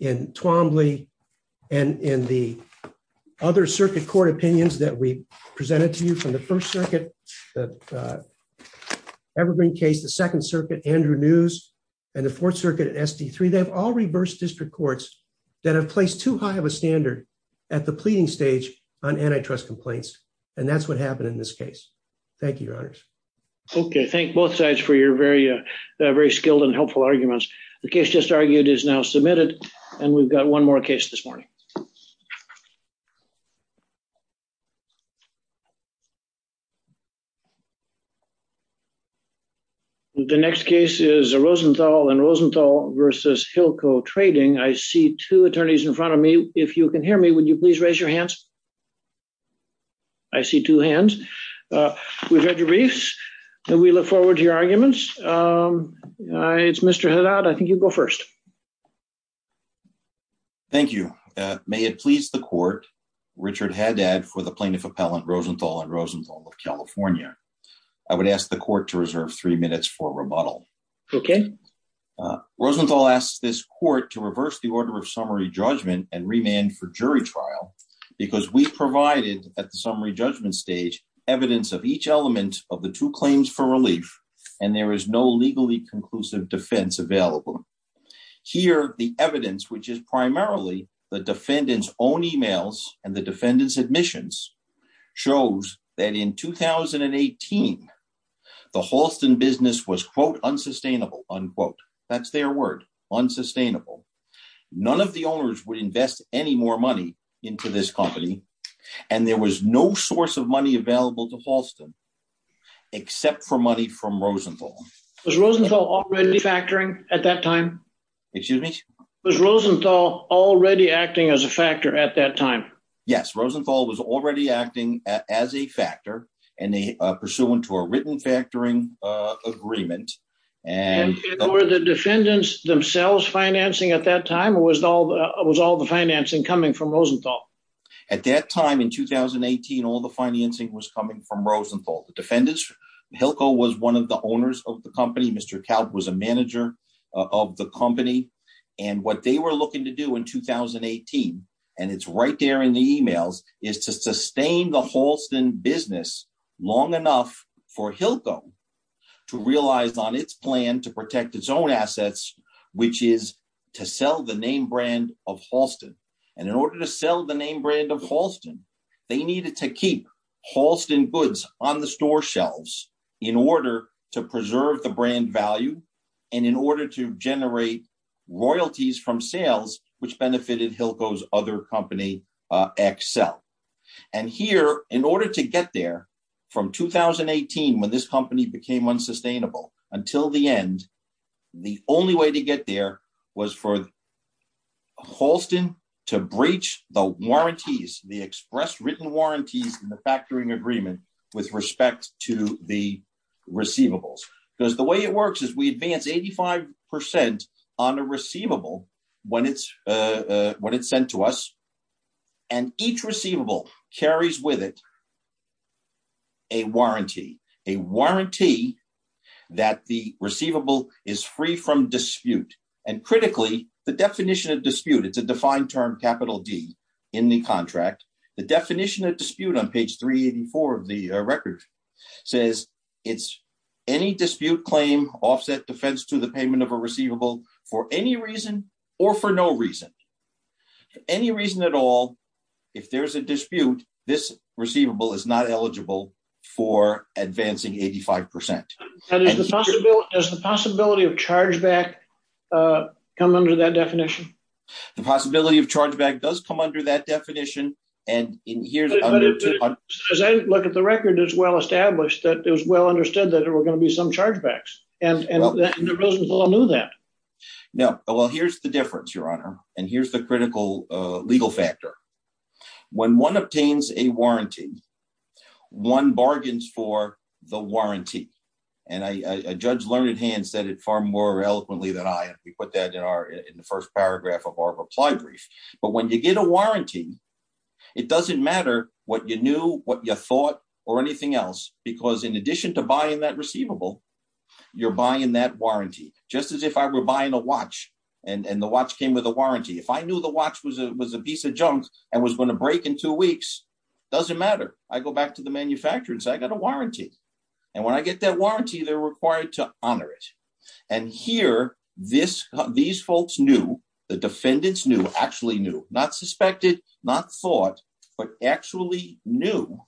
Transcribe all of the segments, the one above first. in Twombly and in the other circuit court opinions that we presented to you from the First Circuit, the Evergreen case, the Second Circuit, Andrew News, and the Fourth Circuit, SD3, they've all reversed district courts that have placed too high of a standard at the pleading stage on antitrust complaints, and that's what happened in this case. Thank you, Your Honors. Okay, thank both sides for your very skilled and helpful arguments. The case just argued is now submitted, and we've got one more case this morning. The next case is Rosenthal & Rosenthal v. Hilco Trading. I see two attorneys in front of me. If you can hear me, would you please raise your hands? I see two hands. We've read your briefs, and we look forward to your arguments. It's Mr. Haddad. I think you go first. Thank you. May it please the Court, Richard Haddad for the Plaintiff Appellant, Rosenthal & Rosenthal of CA. I would ask the Court to reserve three minutes for rebuttal. Okay. Rosenthal asks this Court to reverse the order of summary judgment and remand for jury claims for relief, and there is no legally conclusive defense available. Here, the evidence, which is primarily the defendant's own emails and the defendant's admissions, shows that in 2018, the Halston business was, quote, unsustainable, unquote. That's their word, unsustainable. None of the owners would invest any more money into this except for money from Rosenthal. Was Rosenthal already factoring at that time? Excuse me? Was Rosenthal already acting as a factor at that time? Yes. Rosenthal was already acting as a factor pursuant to a written factoring agreement. And were the defendants themselves financing at that time, or was all the financing coming from Rosenthal? At that time in 2018, all the financing was coming from Rosenthal. The defendants, Hilco was one of the owners of the company. Mr. Kalb was a manager of the company. And what they were looking to do in 2018, and it's right there in the emails, is to sustain the Halston business long enough for Hilco to realize on its plan to protect its own assets, which is to sell the name brand of Halston. And in order to sell the name brand of Halston, they needed to keep Halston goods on the store shelves in order to preserve the brand value, and in order to generate royalties from sales, which benefited Hilco's other company, Accel. And here, in order to get there from 2018, when this company became unsustainable, until the end, the only way to get there was for Halston to breach the warranties, the express written warranties in the factoring agreement with respect to the receivables. Because the way it works is we advance 85% on a receivable when it's sent to us, and each receivable carries with it a warranty. A warranty that the receivable is free from dispute. And critically, the definition of dispute, it's a defined term, capital D, in the contract. The definition of dispute on page 384 of the record says it's any dispute claim offset defense to the payment of a receivable for any reason or for no reason. Any reason at all, if there's a dispute, this receivable is not eligible for advancing 85%. And is the possibility, does the possibility of chargeback come under that definition? The possibility of chargeback does come under that definition, and here's... As I look at the record, it's well established that it was well understood that there were going to be some chargebacks, and the business all knew that. No. Well, here's the difference, Your Honor, and here's the critical legal factor. When one obtains a warranty, one bargains for the warranty. And Judge Learned Hand said it far more eloquently than I. We put that in the first paragraph of our reply brief. But when you get a warranty, it doesn't matter what you knew, what you thought, or anything else, because in addition to buying that receivable, you're buying that warranty. Just as if I were and was going to break in two weeks, doesn't matter. I go back to the manufacturer and say, I got a warranty. And when I get that warranty, they're required to honor it. And here, these folks knew, the defendants knew, actually knew, not suspected, not thought, but actually knew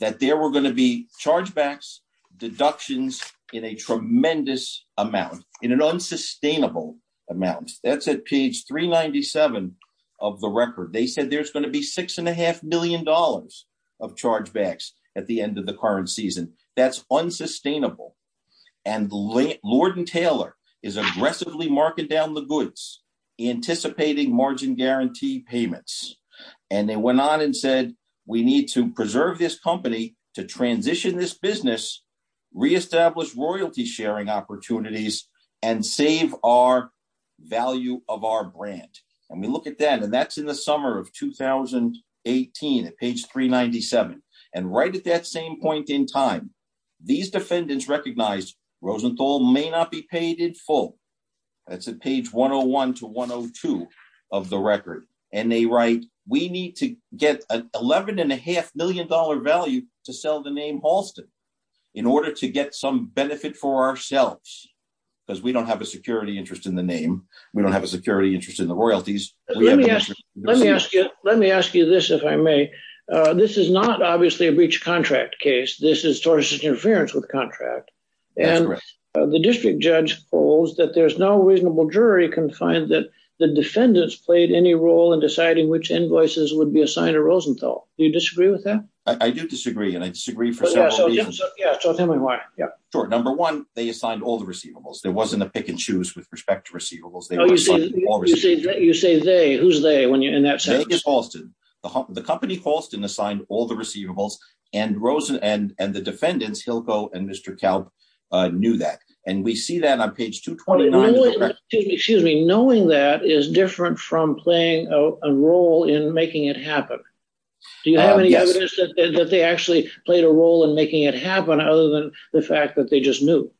that there were going to be chargebacks, deductions in a tremendous amount, in an unsustainable amount. That's at page 397 of the record. They said there's going to be six and a half million dollars of chargebacks at the end of the current season. That's unsustainable. And Lord & Taylor is aggressively marking down the goods, anticipating margin guarantee payments. And they went on and said, we need to preserve this company to transition this business, re-establish royalty sharing opportunities, and save our value of our brand. And we look at that, and that's in the summer of 2018 at page 397. And right at that same point in time, these defendants recognized Rosenthal may not be paid in full. That's at page 101 to 102 of the record. And they write, we need to get an 11 and a half million dollar value to sell the name Halston, in order to get some benefit for ourselves, because we don't have a security interest in the name. We don't have a security interest in the royalties. Let me ask you, let me ask you this, if I may. This is not obviously a breach contract case. This is towards interference with contract. And the district judge holds that there's no reasonable jury can find that the defendants played any role in deciding which invoices would be assigned to Rosenthal. Do you disagree with that? I do disagree. And I disagree for several reasons. Yeah, so tell me why. Yeah, sure. Number one, they assigned all the receivables. There wasn't a pick and choose with respect to receivables. You say they, who's they? The company Halston assigned all the receivables and the defendants, Hilco and Mr. Kalb knew that. And we see that on page 229. Excuse me, knowing that is different from playing a role in making it happen. Do you have any evidence that they actually played a role in making it happen other than the fact that they just knew?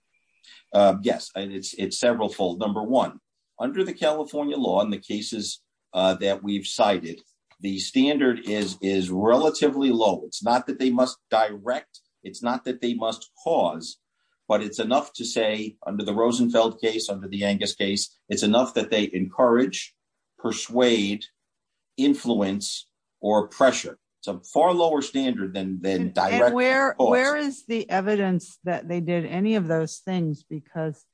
Yes, it's several fold. Number one, under the California law and the cases that we've cited, the standard is relatively low. It's not that they must direct, it's not that they must cause, but it's enough to say under the Rosenfeld case, under the Angus case, it's enough that they encourage, persuade, influence, or pressure. It's a far lower standard than direct. And where is the evidence that they did any of those things? Because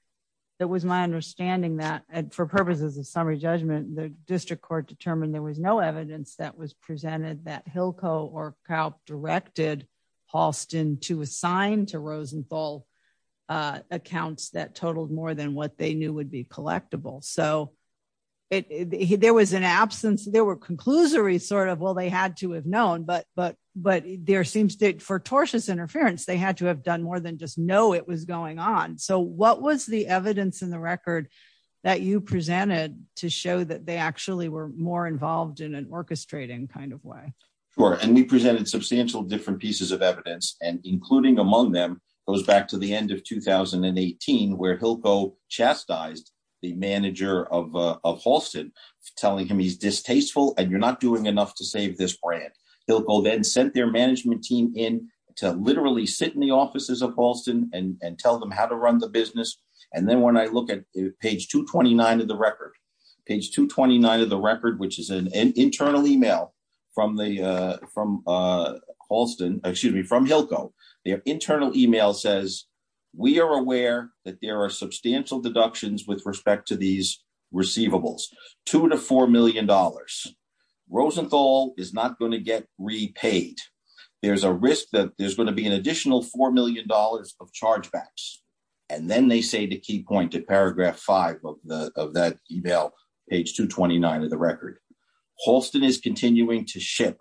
that was my understanding that for purposes of summary judgment, the district court determined there was no evidence that was presented that Hilco or Kalb directed Halston to assign to Rosenthal accounts that totaled more than what they knew would be collectible. So there was an absence, there were conclusories sort of, well, they had to have known, but there seems to, for tortious interference, they had to have done more than just know it was going on. So what was the evidence in the record that you presented to show that they actually were more involved in an orchestrating kind of way? Sure, and we presented substantial different pieces of evidence and including among them goes back to the end of 2018 where Hilco chastised the manager of Halston, telling him he's distasteful and you're not doing enough to save this brand. Hilco then sent their management team in to literally sit in the offices of Halston and tell them how to run the business. And then when I look at page 229 of the record, page 229 which is an internal email from Hilco, their internal email says, we are aware that there are substantial deductions with respect to these receivables, two to four million dollars. Rosenthal is not going to get repaid. There's a risk that there's going to be an additional four million dollars of chargebacks. And then they say the key point paragraph five of that email, page 229 of the record, Halston is continuing to ship,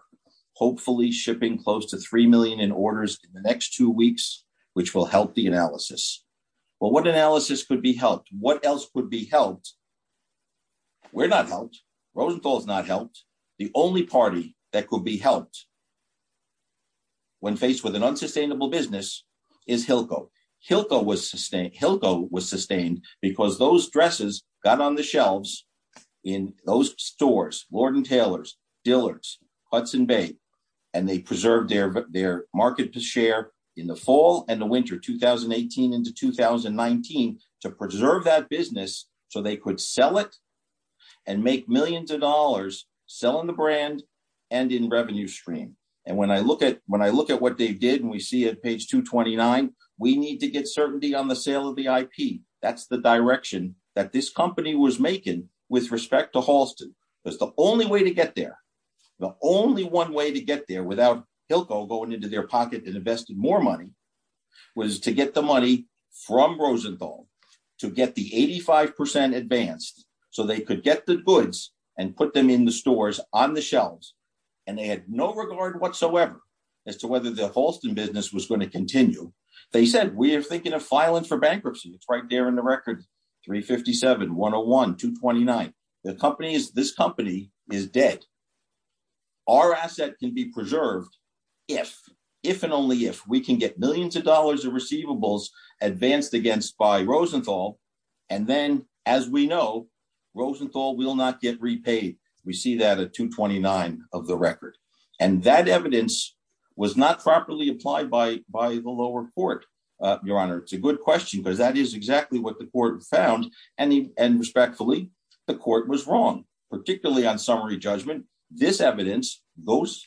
hopefully shipping close to three million in orders in the next two weeks, which will help the analysis. Well, what analysis could be helped? What else could be helped? We're not helped. Rosenthal's not helped. The only party that could be helped when faced with an unsustainable business is Hilco. Hilco was sustained because those dresses got on the shelves in those stores, Lord & Taylor's, Dillard's, Hudson Bay, and they preserved their market share in the fall and the winter 2018 into 2019 to preserve that business so they could sell it and make millions of dollars selling the brand and in revenue stream. And when I look at what they did and we see at page 229, we need to get certainty on the sale of the IP. That's the direction that this company was making with respect to Halston. That's the only way to get there. The only one way to get there without Hilco going into their advance so they could get the goods and put them in the stores on the shelves. And they had no regard whatsoever as to whether the Halston business was going to continue. They said, we are thinking of filing for bankruptcy. It's right there in the record 357, 101, 229. This company is dead. Our asset can be preserved if and only if we can get millions of dollars of receivables advanced against by Rosenthal. And then as we know, Rosenthal will not get repaid. We see that at 229 of the record. And that evidence was not properly applied by the lower court, your honor. It's a good question because that is exactly what the court found. And respectfully, the court was wrong, particularly on summary judgment. This evidence, those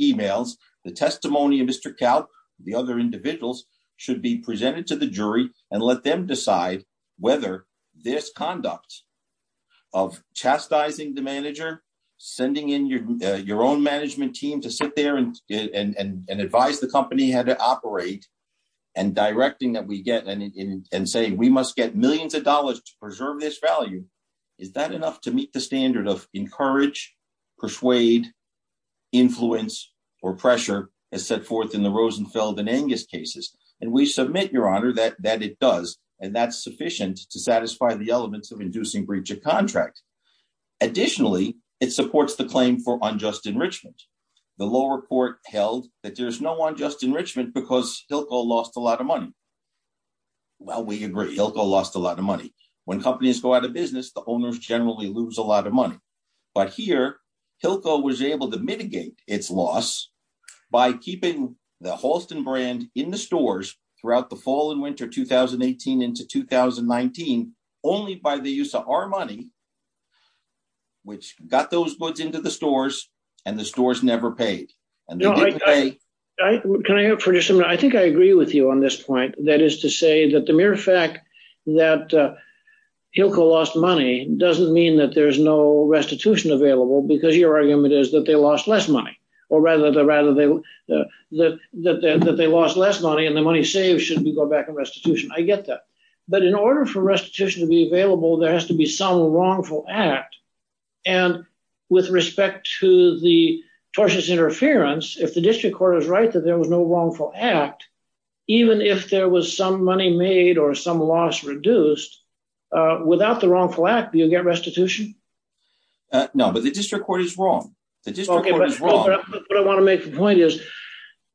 emails, the testimony of Mr. Calc, the other individuals should be presented to the jury and let them decide whether this conduct of chastising the manager, sending in your own management team to sit there and advise the company how to operate and directing that we get and say we must get millions of dollars to preserve this value. Is that enough to meet the standard of encourage, persuade, influence, or pressure as set forth in the Rosenfeld and Angus cases? And we submit, your honor, that it does. And that's sufficient to satisfy the elements of inducing breach of contract. Additionally, it supports the claim for unjust enrichment. The lower court held that there's no unjust enrichment because Hilco lost a lot of money. Well, we agree. Hilco lost a lot of money. When companies go out of money. But here, Hilco was able to mitigate its loss by keeping the Halston brand in the stores throughout the fall and winter 2018 into 2019, only by the use of our money, which got those goods into the stores and the stores never paid. Can I interrupt for just a minute? I think I agree with you on this point. That is to say that the mere fact that Hilco lost money doesn't mean that there's no restitution available because your argument is that they lost less money. Or rather, that they lost less money and the money saved should go back in restitution. I get that. But in order for restitution to be available, there has to be some wrongful act. And with respect to the tortious interference, if the or some loss reduced without the wrongful act, do you get restitution? No, but the district court is wrong. What I want to make the point is,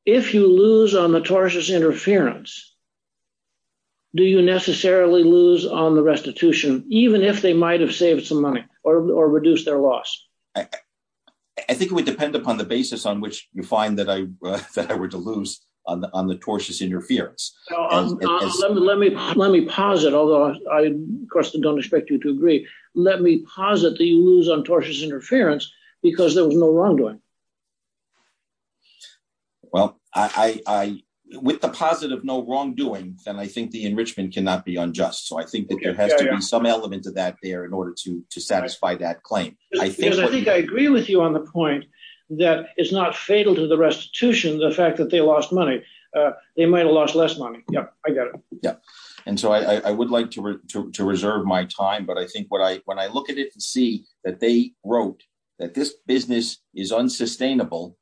if you lose on the tortious interference, do you necessarily lose on the restitution, even if they might have saved some money or reduced their loss? I think it would depend upon the basis on which you find that I were to lose on the interference. Let me pause it, although I, of course, don't expect you to agree. Let me pause it that you lose on tortious interference because there was no wrongdoing. Well, with the positive no wrongdoing, then I think the enrichment cannot be unjust. So I think that there has to be some element of that there in order to satisfy that claim. I think I agree with you on the point that it's not fatal to the restitution, the fact that they lost money. They might have lost less money. Yeah, I got it. Yeah. And so I would like to reserve my time. But I think what I when I look at it and see that they wrote that this business is unsustainable,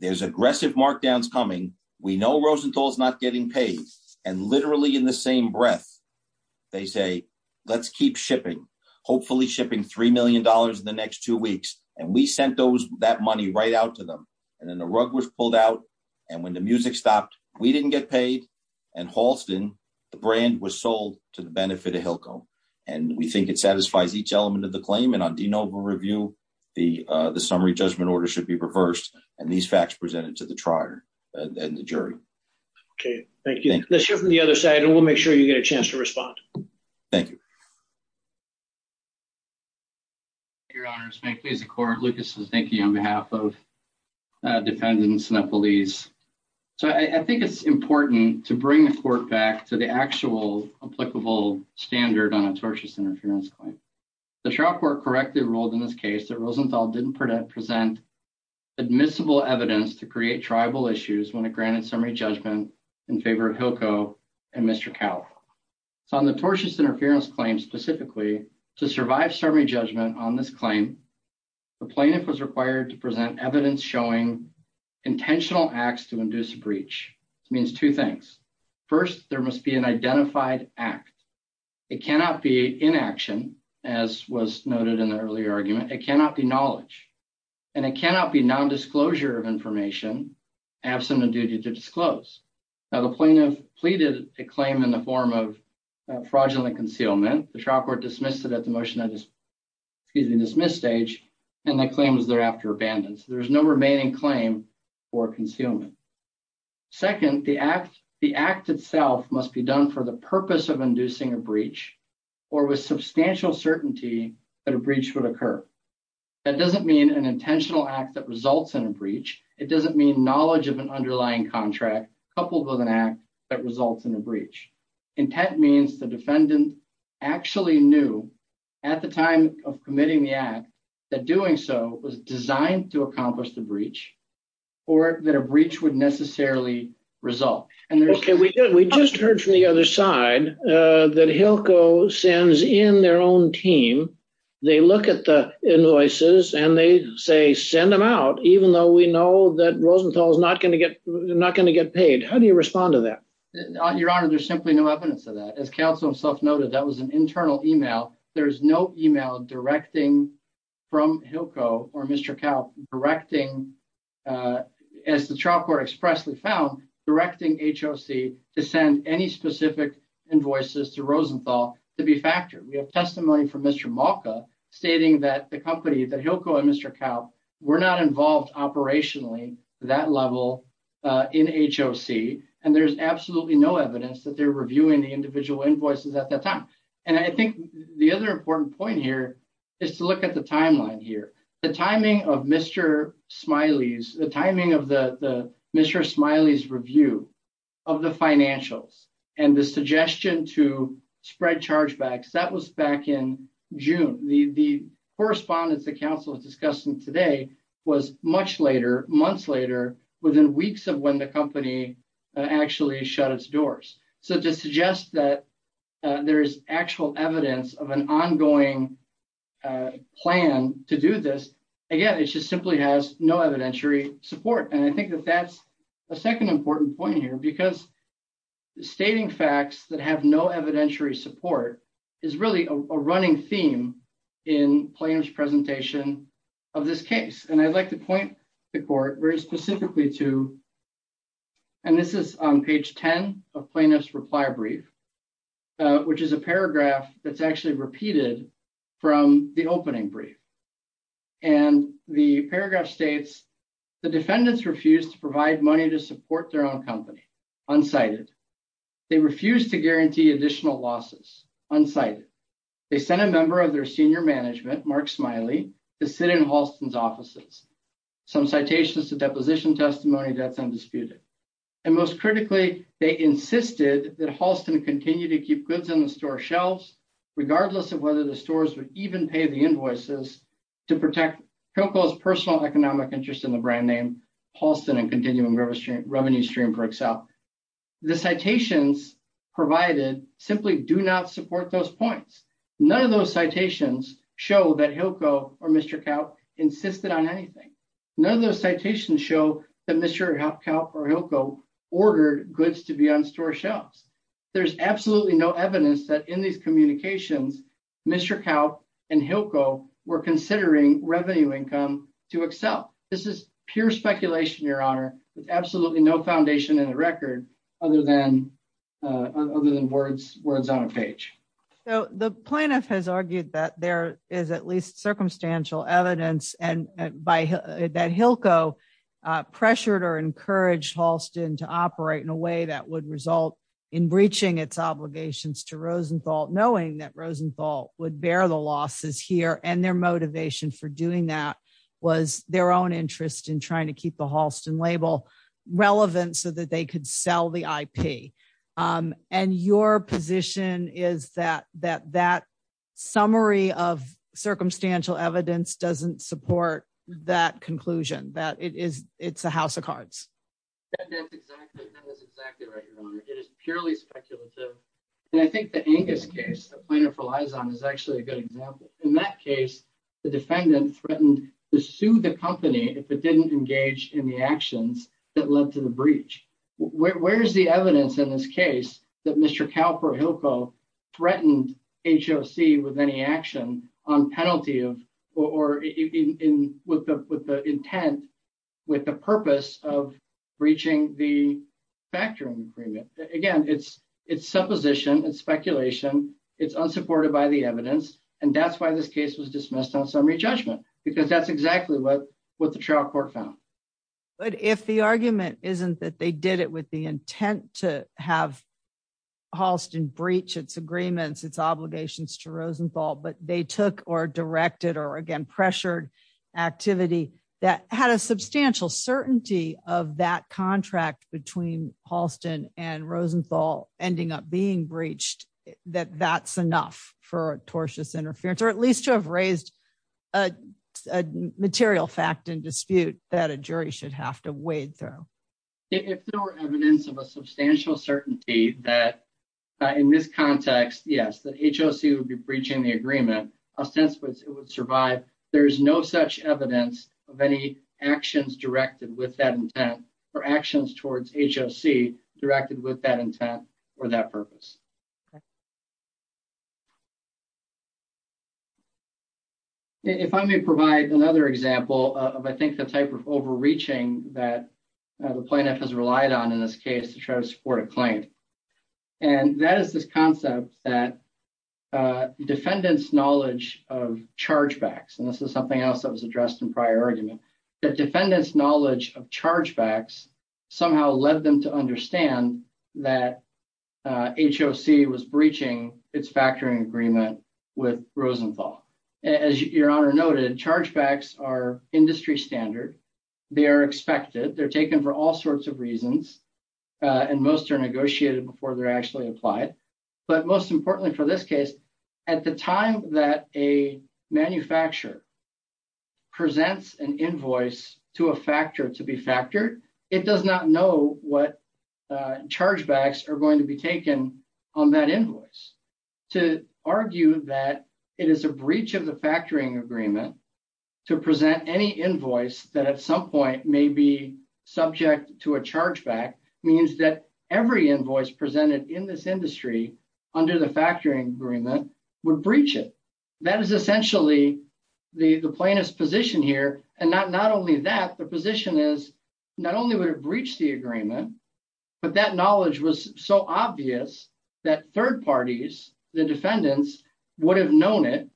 there's aggressive markdowns coming. We know Rosenthal's not getting paid. And literally in the same breath, they say, let's keep shipping, hopefully shipping three million dollars in the next two weeks. And we sent those that money right out to them. And then the rug was pulled out. And when the music stopped, we didn't get paid. And Halston, the brand was sold to the benefit of Hilco. And we think it satisfies each element of the claim. And on de novo review, the summary judgment order should be reversed. And these facts presented to the trier and the jury. OK, thank you. Let's hear from the other side. And we'll make sure you get a chance to respond. Thank you. Your Honor, may it please the court. Lucas, thank you on behalf of the defendants and the police. So I think it's important to bring the court back to the actual applicable standard on a tortious interference claim. The trial court correctly ruled in this case that Rosenthal didn't present admissible evidence to create tribal issues when it granted summary judgment in favor of Hilco and Mr. Cal. So on the tortious interference claim specifically to survive summary judgment on this claim, the plaintiff was required to present evidence showing intentional acts to induce a breach. It means two things. First, there must be an identified act. It cannot be inaction, as was noted in the earlier argument. It cannot be knowledge. And it cannot be non-disclosure of information absent a duty to disclose. Now, the plaintiff pleaded a claim in the form of fraudulent concealment. The trial court dismissed it at the motion, excuse me, dismiss stage, and the claim was thereafter abandoned. So there's no remaining claim for concealment. Second, the act itself must be done for the purpose of inducing a breach or with substantial certainty that a breach would occur. That doesn't mean an intentional act that results in a breach. It doesn't mean knowledge of an underlying contract coupled with an act that results in a breach. Intent means the defendant actually knew at the time of committing the act that doing so was designed to accomplish the breach or that a breach would necessarily result. Okay, we just heard from the other side that Hilco sends in their own team. They look at the invoices and they say, send them out, even though we know that How do you respond to that? Your Honor, there's simply no evidence of that. As counsel himself noted, that was an internal email. There's no email directing from Hilco or Mr. Kaupp directing, as the trial court expressly found, directing HOC to send any specific invoices to Rosenthal to be factored. We have testimony from Mr. Malka stating that the company, that Hilco and Mr. Kaupp were not involved operationally to that level in HOC. And there's absolutely no evidence that they're reviewing the individual invoices at that time. And I think the other important point here is to look at the timeline here, the timing of Mr. Smiley's, the timing of the Mr. Smiley's review of the financials and the suggestion to spread chargebacks, that was back in was much later, months later, within weeks of when the company actually shut its doors. So to suggest that there is actual evidence of an ongoing plan to do this, again, it just simply has no evidentiary support. And I think that that's a second important point here, because stating facts that have no evidentiary support is really a running theme in Plano's presentation of this case. And I'd like to point the court very specifically to, and this is on page 10 of Plano's reply brief, which is a paragraph that's actually repeated from the opening brief. And the paragraph states, the defendants refuse to provide money to support their own company, unsighted. They refuse to guarantee additional losses, unsighted. They sent a member of their senior management, Mark Smiley, to sit in Halston's offices. Some citations to deposition testimony, that's undisputed. And most critically, they insisted that Halston continue to keep goods on the store shelves, regardless of whether the stores would even pay the invoices to protect Cocoa's personal economic interest in the brand name Halston and continuing revenue stream for Excel. The citations provided simply do not support those points. None of those citations show that Hilco or Mr. Calp insisted on anything. None of those citations show that Mr. Calp or Hilco ordered goods to be on store shelves. There's absolutely no evidence that in these communications, Mr. Calp and Hilco were considering revenue income to Excel. This is pure speculation, your honor, with absolutely no page. So the plaintiff has argued that there is at least circumstantial evidence and that Hilco pressured or encouraged Halston to operate in a way that would result in breaching its obligations to Rosenthal, knowing that Rosenthal would bear the losses here and their motivation for doing that was their own interest in trying to keep the Halston label relevant so that they could sell the IP. And your position is that that summary of circumstantial evidence doesn't support that conclusion, that it is it's a house of cards? That's exactly right, your honor. It is purely speculative and I think the Angus case, the plaintiff relies on, is actually a good example. In that case, the defendant threatened to sue the company if it didn't engage in the actions that led to the breach. Where's the evidence in this case that Mr. Calp or Hilco threatened HOC with any action on penalty of or in with the intent, with the purpose of breaching the factoring agreement? Again, it's supposition and speculation. It's unsupported by the evidence and that's why this case was dismissed on summary judgment because that's exactly what the trial court found. But if the argument isn't that they did it with the intent to have Halston breach its agreements, its obligations to Rosenthal, but they took or directed or again pressured activity that had a substantial certainty of that contract between Halston and Rosenthal ending up being breached, that that's enough for tortious interference or at least to have raised a material fact and dispute that a jury should have to wade through. If there were evidence of a substantial certainty that in this context, yes, that HOC would be breaching the agreement, a sense was it would survive. There is no such evidence of any actions directed with that intent or actions towards HOC directed with that intent or that purpose. If I may provide another example of I think the type of overreaching that the plaintiff has relied on in this case to try to support a claim. And that is this concept that defendants' knowledge of chargebacks, and this is something else that was addressed in prior argument, that defendants' knowledge of chargebacks somehow led them to understand that as your Honor noted, chargebacks are industry standard, they are expected, they're taken for all sorts of reasons, and most are negotiated before they're actually applied. But most importantly for this case, at the time that a manufacturer presents an invoice to a factor to be factored, it does not know what chargebacks are going to be taken on that invoice. To argue that it is a breach of the factoring agreement to present any invoice that at some point may be subject to a chargeback means that every invoice presented in this industry under the factoring agreement would breach it. That is essentially the plaintiff's position here. And not only that, the position is not only would it breach the agreement, but that knowledge was so obvious that third parties, the defendants, would have known it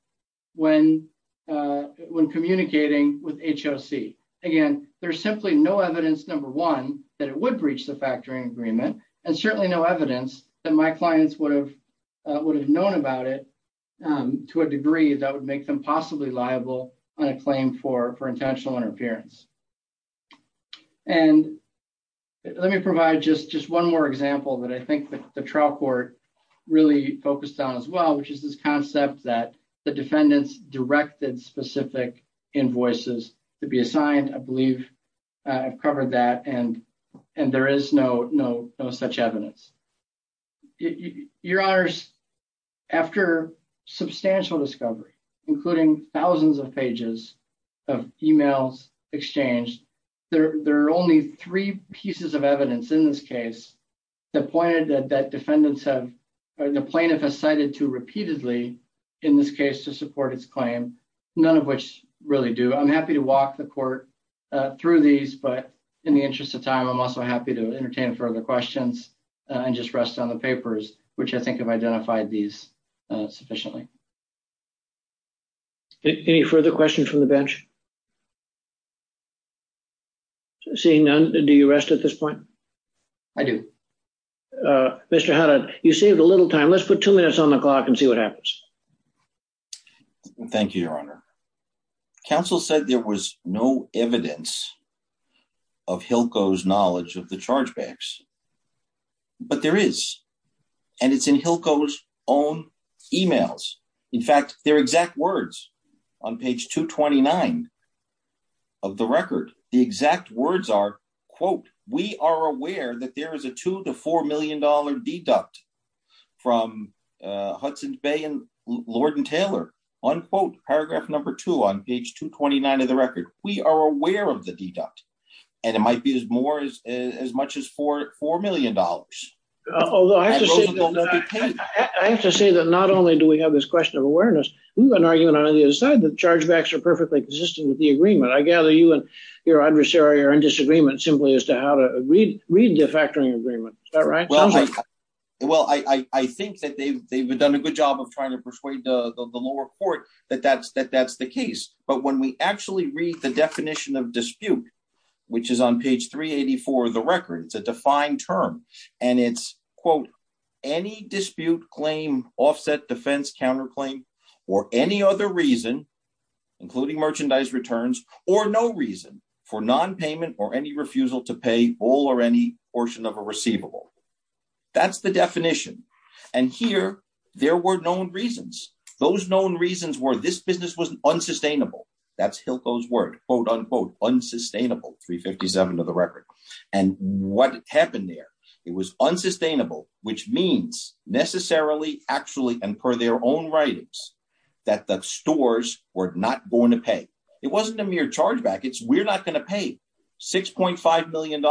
when communicating with HOC. Again, there's simply no evidence, number one, that it would breach the factoring agreement, and certainly no evidence that my clients would have known about it to a degree that would make them possibly liable on a claim for intentional interference. And let me provide just one more example that I think the trial court really focused on as well, which is this concept that the defendants directed specific invoices to be assigned. I believe I've covered that, and there is no such evidence. Your Honors, after substantial discovery, including thousands of pages of emails exchanged, there are only three pieces of evidence in this case that pointed that the plaintiff has cited to repeatedly in this case to support its claim, none of which really do. I'm happy to walk the court through these, but in the interest of time, I'm also happy to entertain further questions and just rest on the papers, which I think have any further questions from the bench. Seeing none, do you rest at this point? I do. Mr. Haddad, you saved a little time. Let's put two minutes on the clock and see what happens. Thank you, Your Honor. Council said there was no evidence of HILCO's knowledge of the chargebacks, but there is, and it's in HILCO's emails. In fact, their exact words on page 229 of the record, the exact words are, quote, we are aware that there is a $2 to $4 million deduct from Hudson's Bay and Lord and Taylor, unquote, paragraph number two on page 229 of the record. We are aware of the deduct, and it might be as much as $4 million. Although I have to say that not only do we have this question of awareness, we've been arguing on either side that chargebacks are perfectly consistent with the agreement. I gather you and your adversary are in disagreement simply as to how to read the factoring agreement. Is that right? Well, I think that they've done a good job of trying to persuade the lower court that that's the case, but when we actually read the which is on page 384 of the record, it's a defined term, and it's, quote, any dispute, claim, offset, defense, counterclaim, or any other reason, including merchandise returns, or no reason for nonpayment or any refusal to pay all or any portion of a receivable. That's the definition, and here there were known reasons. Those known reasons were this business was unsustainable. That's Hilco's word, quote, unquote, unsustainable, 357 of the record, and what happened there? It was unsustainable, which means necessarily, actually, and per their own writings that the stores were not going to pay. It wasn't a mere chargeback. It's we're not going to pay. $6.5 million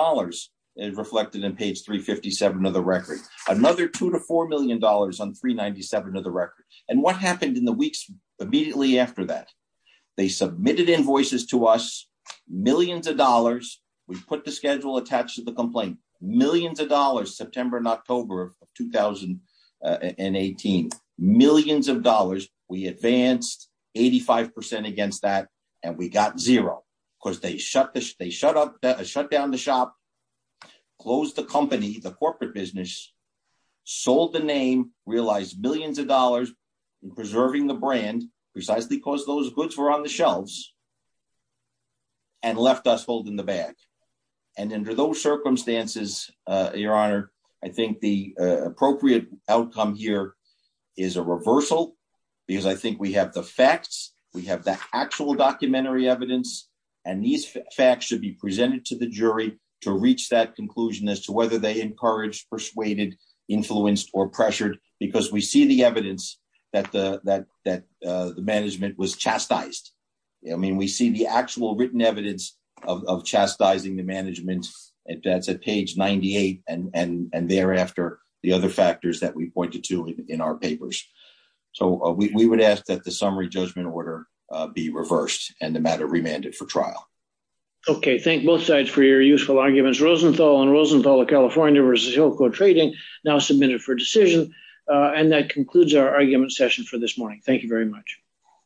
is reflected in page 357 of the record. Another $2 to $4 million on page 397 of the record, and what happened in the weeks immediately after that? They submitted invoices to us, millions of dollars. We put the schedule attached to the complaint, millions of dollars, September and October of 2018, millions of dollars. We advanced 85 percent against that, and we got zero because they shut down the shop, closed the company, the corporate business, sold the name, realized millions of dollars in preserving the brand precisely because those goods were on the shelves, and left us holding the bag, and under those circumstances, Your Honor, I think the appropriate outcome here is a reversal because I think we have the facts. We have the actual documentary evidence, and these facts should be presented to the jury to reach that conclusion as to whether they encouraged, persuaded, influenced, or pressured because we see the evidence that the management was chastised. I mean, we see the actual written evidence of chastising the management. That's at page 98, and thereafter, the other factors that we pointed to in our papers, so we would ask that the summary judgment order be reversed and the for your useful arguments. Rosenthal and Rosenthal of California versus Hillcote Trading now submitted for decision, and that concludes our argument session for this morning. Thank you very much.